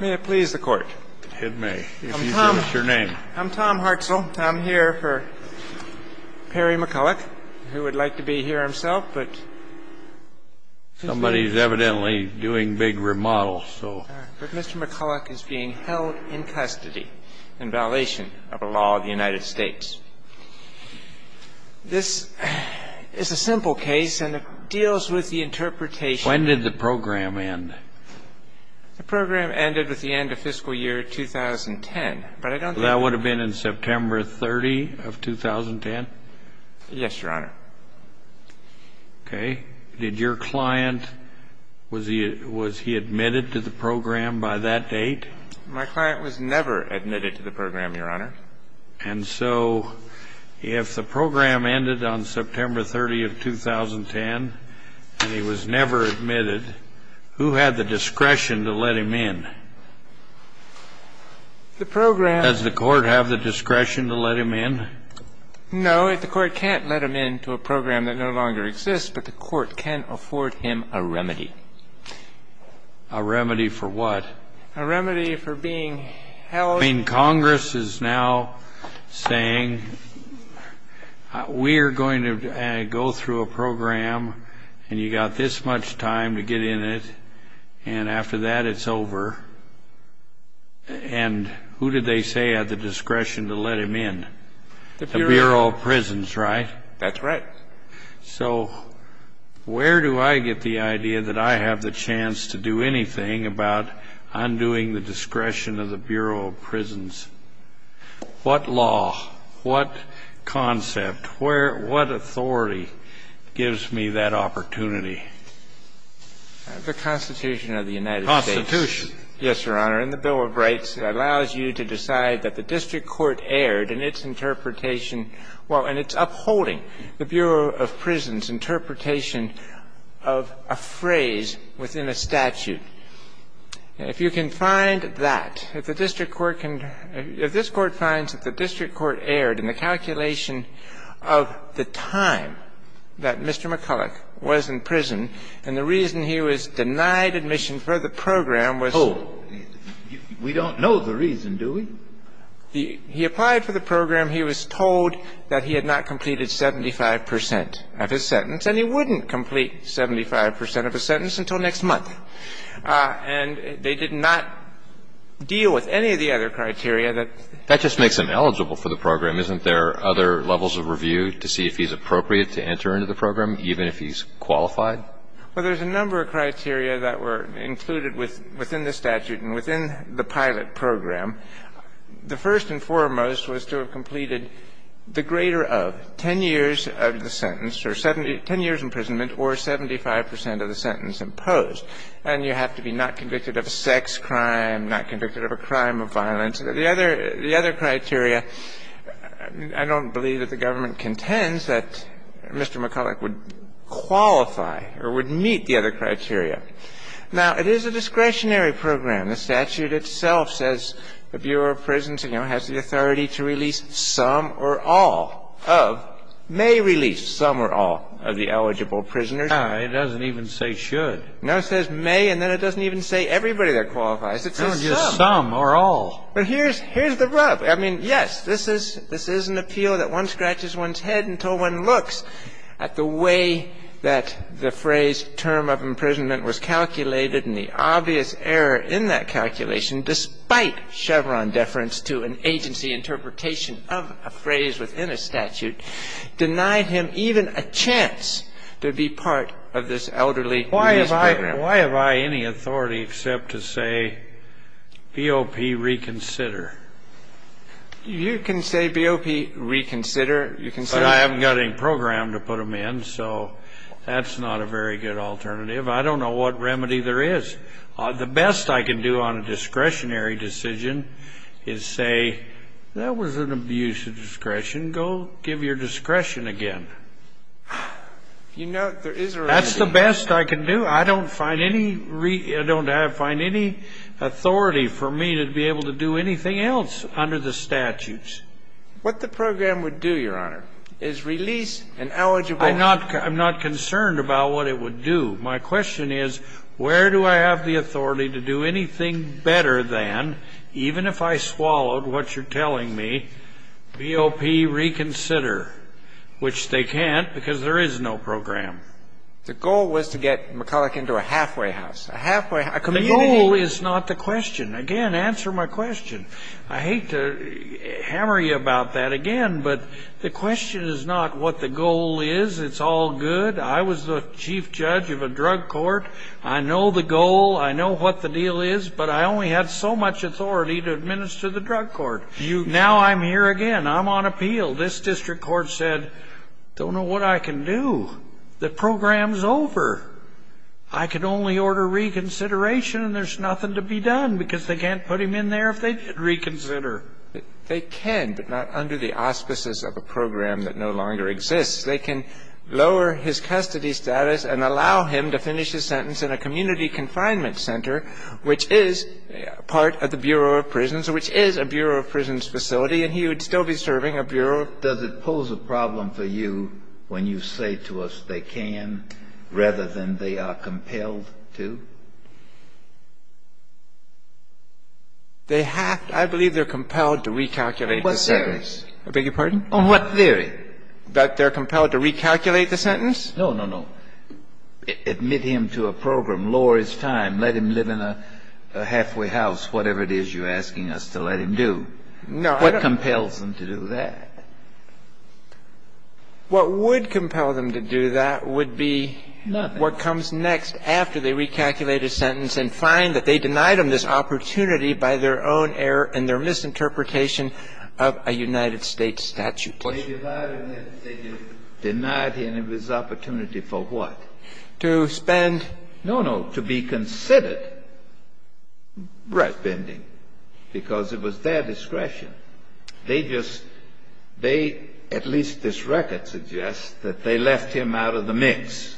May it please the Court. It may, if you give us your name. I'm Tom Hartzell. I'm here for Perry McCullough, who would like to be here himself, but Somebody's evidently doing big remodels, so. But Mr. McCullough is being held in custody in violation of a law of the United States. This is a simple case, and it deals with the interpretation When did the program end? The program ended with the end of fiscal year 2010, but I don't think That would have been in September 30 of 2010? Yes, Your Honor. Okay. Did your client, was he admitted to the program by that date? My client was never admitted to the program, Your Honor. And so if the program ended on September 30 of 2010, and he was never admitted, who had the discretion to let him in? The program Does the Court have the discretion to let him in? No, the Court can't let him into a program that no longer exists, but the Court can afford him a remedy. A remedy for what? A remedy for being held I mean, Congress is now saying, we're going to go through a program, and you've got this much time to get in it, and after that it's over. And who did they say had the discretion to let him in? The Bureau of Prisons, right? That's right. So where do I get the idea that I have the chance to do anything about undoing the discretion of the Bureau of Prisons? What law, what concept, what authority gives me that opportunity? The Constitution of the United States. Constitution. Yes, Your Honor. And the Bill of Rights allows you to decide that the district court erred in its interpretation while it's upholding the Bureau of Prisons' interpretation of a phrase within a statute. If you can find that, if the district court can – if this Court finds that the district court erred in the calculation of the time that Mr. McCulloch was in prison and the reason he was denied admission for the program was – Oh, we don't know the reason, do we? He applied for the program. He was told that he had not completed 75 percent of his sentence, and he wouldn't complete 75 percent of his sentence until next month. And they did not deal with any of the other criteria that – That just makes him eligible for the program. Isn't there other levels of review to see if he's appropriate to enter into the program, even if he's qualified? Well, there's a number of criteria that were included within the statute and within the pilot program. The first and foremost was to have completed the greater of 10 years of the sentence or 70 – 10 years' imprisonment or 75 percent of the sentence imposed. And you have to be not convicted of a sex crime, not convicted of a crime of violence. The other – the other criteria, I don't believe that the government contends that Mr. McCulloch would qualify or would meet the other criteria. Now, it is a discretionary program. The statute itself says the Bureau of Prisons, you know, has the authority to release some or all of – may release some or all of the eligible prisoners. No, it doesn't even say should. No, it says may, and then it doesn't even say everybody that qualifies. It says some. It's not just some or all. But here's – here's the rub. I mean, yes, this is – this is an appeal that one scratches one's head until one looks at the way that the phrase term of imprisonment was calculated and the obvious error in that calculation, despite Chevron deference to an agency interpretation of a phrase within a statute, denied him even a chance to be part of this elderly program. Why have I any authority except to say BOP reconsider? You can say BOP reconsider. You can say – But I haven't got any program to put them in, so that's not a very good alternative. I don't know what remedy there is. The best I can do on a discretionary decision is say that was an abuse of discretion. Go give your discretion again. You know, there is a remedy. That's the best I can do. I don't find any – I don't have – find any authority for me to be able to do anything else under the statutes. What the program would do, Your Honor, is release an eligible – I'm not – I'm not concerned about what it would do. My question is where do I have the authority to do anything better than, even if I swallowed what you're telling me, BOP reconsider, which they can't because there is no program. The goal was to get McCulloch into a halfway house, a halfway – The goal is not the question. Again, answer my question. I hate to hammer you about that again, but the question is not what the goal is. It's all good. I was the chief judge of a drug court. I know the goal. I know what the deal is. But I only had so much authority to administer the drug court. Now I'm here again. I'm on appeal. This district court said, don't know what I can do. The program's over. I can only order reconsideration and there's nothing to be done because they can't put him in there if they did reconsider. They can, but not under the auspices of a program that no longer exists. They can lower his custody status and allow him to finish his sentence in a community confinement center, which is part of the Bureau of Prisons, which is a Bureau of Prisons facility, and he would still be serving a bureau. Does it pose a problem for you when you say to us they can rather than they are compelled to? I believe they're compelled to recalculate the sentence. On what theory? I beg your pardon? On what theory? That they're compelled to recalculate the sentence? No, no, no. Admit him to a program, lower his time, let him live in a halfway house, whatever it is you're asking us to let him do. What compels them to do that? What would compel them to do that would be what comes next after they recalculate a sentence and find that they denied him this opportunity by their own error and their misinterpretation of a United States statute. They denied him his opportunity for what? To spend. No, no. To be considered. Right. Spending. Because it was their discretion. They just they, at least this record suggests, that they left him out of the mix.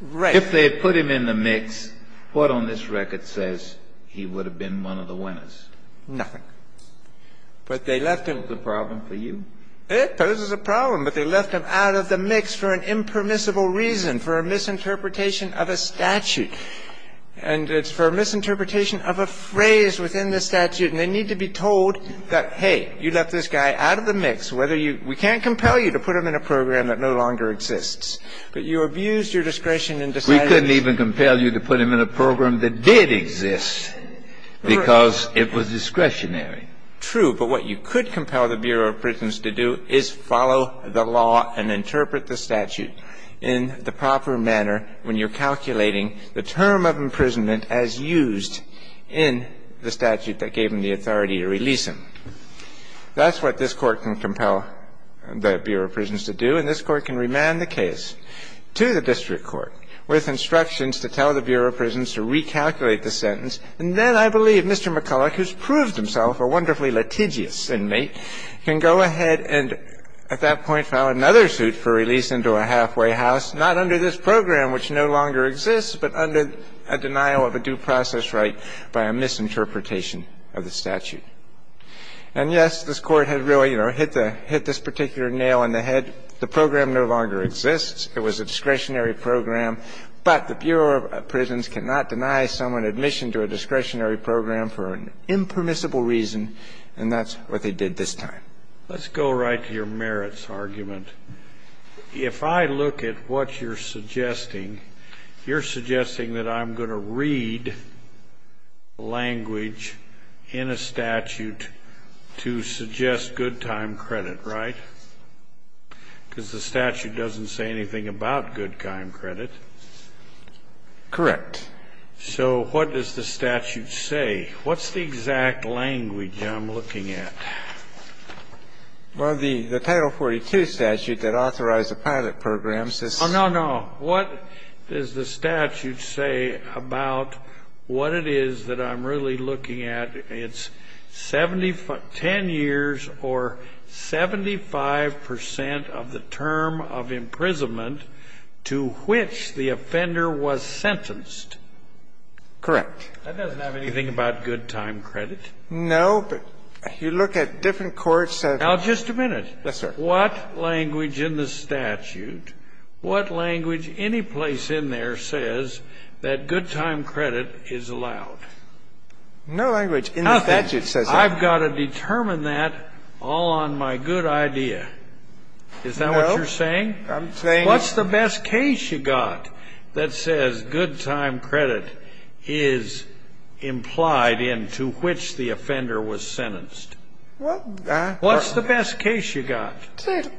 Right. If they had put him in the mix, what on this record says he would have been one of the winners? Nothing. But they left him. Does it pose a problem for you? It poses a problem, but they left him out of the mix for an impermissible reason, for a misinterpretation of a statute. And it's for a misinterpretation of a phrase within the statute. And they need to be told that, hey, you left this guy out of the mix. We can't compel you to put him in a program that no longer exists. But you abused your discretion in deciding. We couldn't even compel you to put him in a program that did exist because it was discretionary. True. But what you could compel the Bureau of Prisons to do is follow the law and interpret the statute in the proper manner when you're calculating the term of imprisonment as used in the statute that gave them the authority to release him. That's what this Court can compel the Bureau of Prisons to do. And this Court can remand the case to the district court with instructions to tell the Bureau of Prisons to recalculate the sentence. And then I believe Mr. McCulloch, who's proved himself a wonderfully litigious inmate, can go ahead and at that point file another suit for release into a halfway house, not under this program which no longer exists, but under a denial of a due process right by a misinterpretation of the statute. And, yes, this Court had really, you know, hit the hit this particular nail in the head. The program no longer exists. It was a discretionary program. But the Bureau of Prisons cannot deny someone admission to a discretionary program for an impermissible reason, and that's what they did this time. Let's go right to your merits argument. If I look at what you're suggesting, you're suggesting that I'm going to read language in a statute to suggest good time credit, right? Because the statute doesn't say anything about good time credit. Correct. So what does the statute say? What's the exact language I'm looking at? Well, the Title 42 statute that authorized the pilot program says so. Oh, no, no. What does the statute say about what it is that I'm really looking at? Well, the statute says it's 10 years or 75 percent of the term of imprisonment to which the offender was sentenced. Correct. That doesn't have anything about good time credit? No. But you look at different courts. Now, just a minute. Yes, sir. What language in the statute, what language anyplace in there says that good time credit is allowed? No language in the statute says that. Nothing. I've got to determine that all on my good idea. No. Is that what you're saying? I'm saying that. What's the best case you've got that says good time credit is implied in to which the offender was sentenced? What? What's the best case you've got?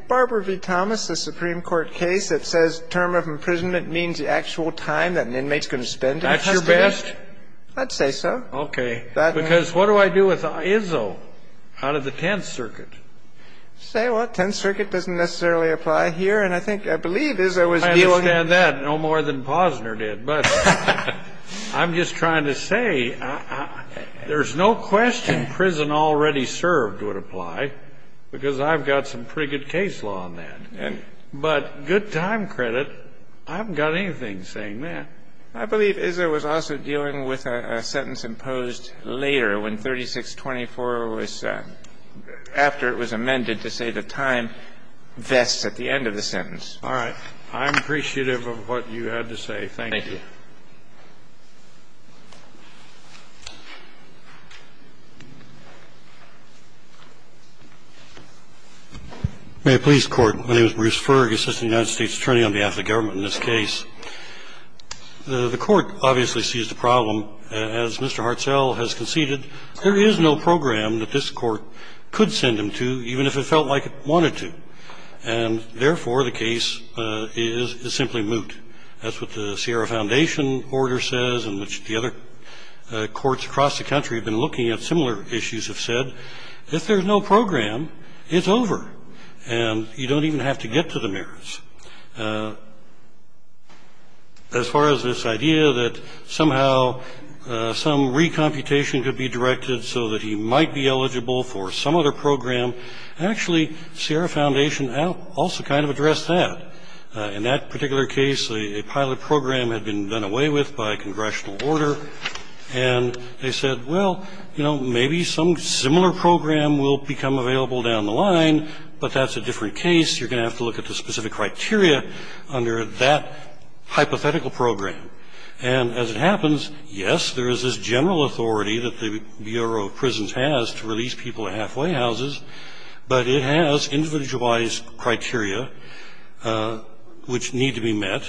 Barbara v. Thomas, the Supreme Court case that says term of imprisonment means the actual time that an inmate's going to spend in custody. That's your best? I'd say so. Okay. Because what do I do with Izzo out of the Tenth Circuit? Say what? Tenth Circuit doesn't necessarily apply here. And I think or believe Izzo was dealing with it. I understand that no more than Posner did. But I'm just trying to say there's no question prison already served would apply because I've got some pretty good case law on that. But good time credit, I haven't got anything saying that. And I believe Izzo was also dealing with a sentence imposed later when 3624 was after it was amended to say the time vests at the end of the sentence. All right. I'm appreciative of what you had to say. Thank you. Thank you. May I please, Court? My name is Bruce Ferg, Assistant United States Attorney on behalf of the government in this case. The Court obviously sees the problem. As Mr. Hartzell has conceded, there is no program that this Court could send him to even if it felt like it wanted to. And therefore, the case is simply moot. That's what the Sierra Foundation order says and which the other courts across the country have been looking at similar issues have said. If there's no program, it's over. And you don't even have to get to the mirrors. As far as this idea that somehow some recomputation could be directed so that he might be eligible for some other program, actually Sierra Foundation also kind of addressed that. In that particular case, a pilot program had been done away with by congressional order, and they said, well, you know, maybe some similar program will become available down the line, but that's a different case. You're going to have to look at the specific criteria under that hypothetical program. And as it happens, yes, there is this general authority that the Bureau of Prisons has to release people to halfway houses, but it has individualized criteria which need to be met.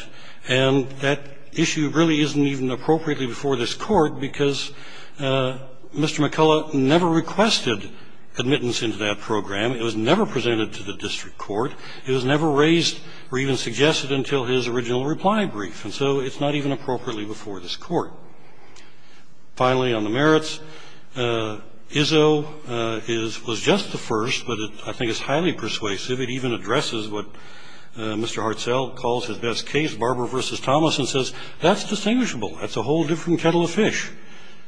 And that issue really isn't even appropriately before this Court because Mr. McCullough never requested admittance into that program. It was never presented to the district court. It was never raised or even suggested until his original reply brief. And so it's not even appropriately before this Court. Finally, on the merits, Izzo was just the first, but I think it's highly persuasive. It even addresses what Mr. Hartsell calls his best case, Barber v. Thomas, and says, that's distinguishable. That's a whole different kettle of fish.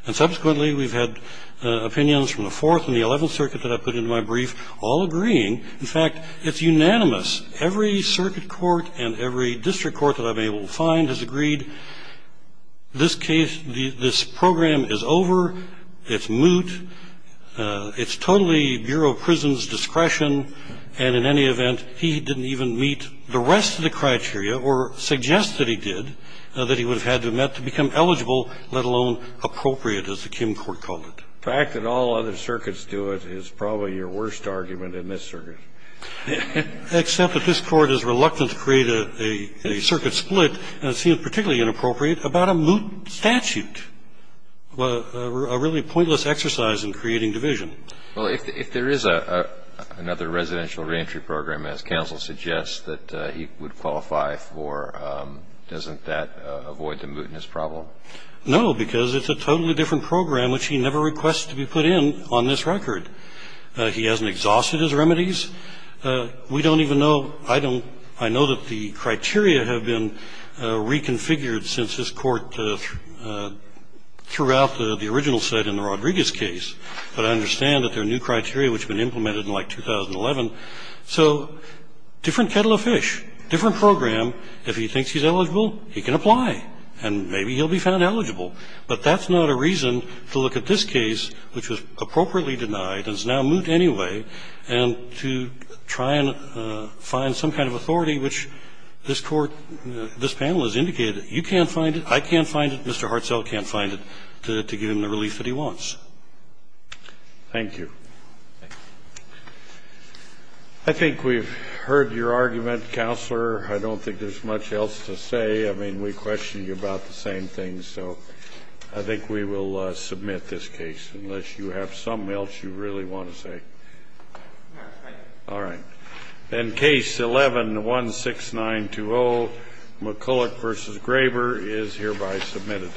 And subsequently, we've had opinions from the Fourth and the Eleventh Circuit that I put into my brief all agreeing. In fact, it's unanimous. Every circuit court and every district court that I've been able to find has agreed this case, this program is over, it's moot, it's totally Bureau of Prisons' discretion, and in any event, he didn't even meet the rest of the criteria or suggest that he did, that he would have had to have met to become eligible, let alone appropriate, as the Kim court called it. The fact that all other circuits do it is probably your worst argument in this circuit. Except that this Court is reluctant to create a circuit split, and it seems particularly inappropriate, about a moot statute, a really pointless exercise in creating division. Well, if there is another residential reentry program, as counsel suggests, that he would qualify for, doesn't that avoid the mootness problem? No, because it's a totally different program which he never requests to be put in on this record. He hasn't exhausted his remedies. We don't even know, I don't, I know that the criteria have been reconfigured since this Court threw out the original set in the Rodriguez case. But I understand that there are new criteria which have been implemented in like 2011. So different kettle of fish, different program. If he thinks he's eligible, he can apply, and maybe he'll be found eligible. But that's not a reason to look at this case, which was appropriately denied and is now moot anyway, and to try and find some kind of authority which this Court, this panel has indicated, you can't find it, I can't find it, Mr. Hartzell can't find it, to give him the relief that he wants. Thank you. I think we've heard your argument, Counselor. I don't think there's much else to say. I mean, we question you about the same things, so I think we will submit this case, unless you have something else you really want to say. No, thank you. All right. Then Case 11-16920, McCulloch v. Graber, is hereby submitted.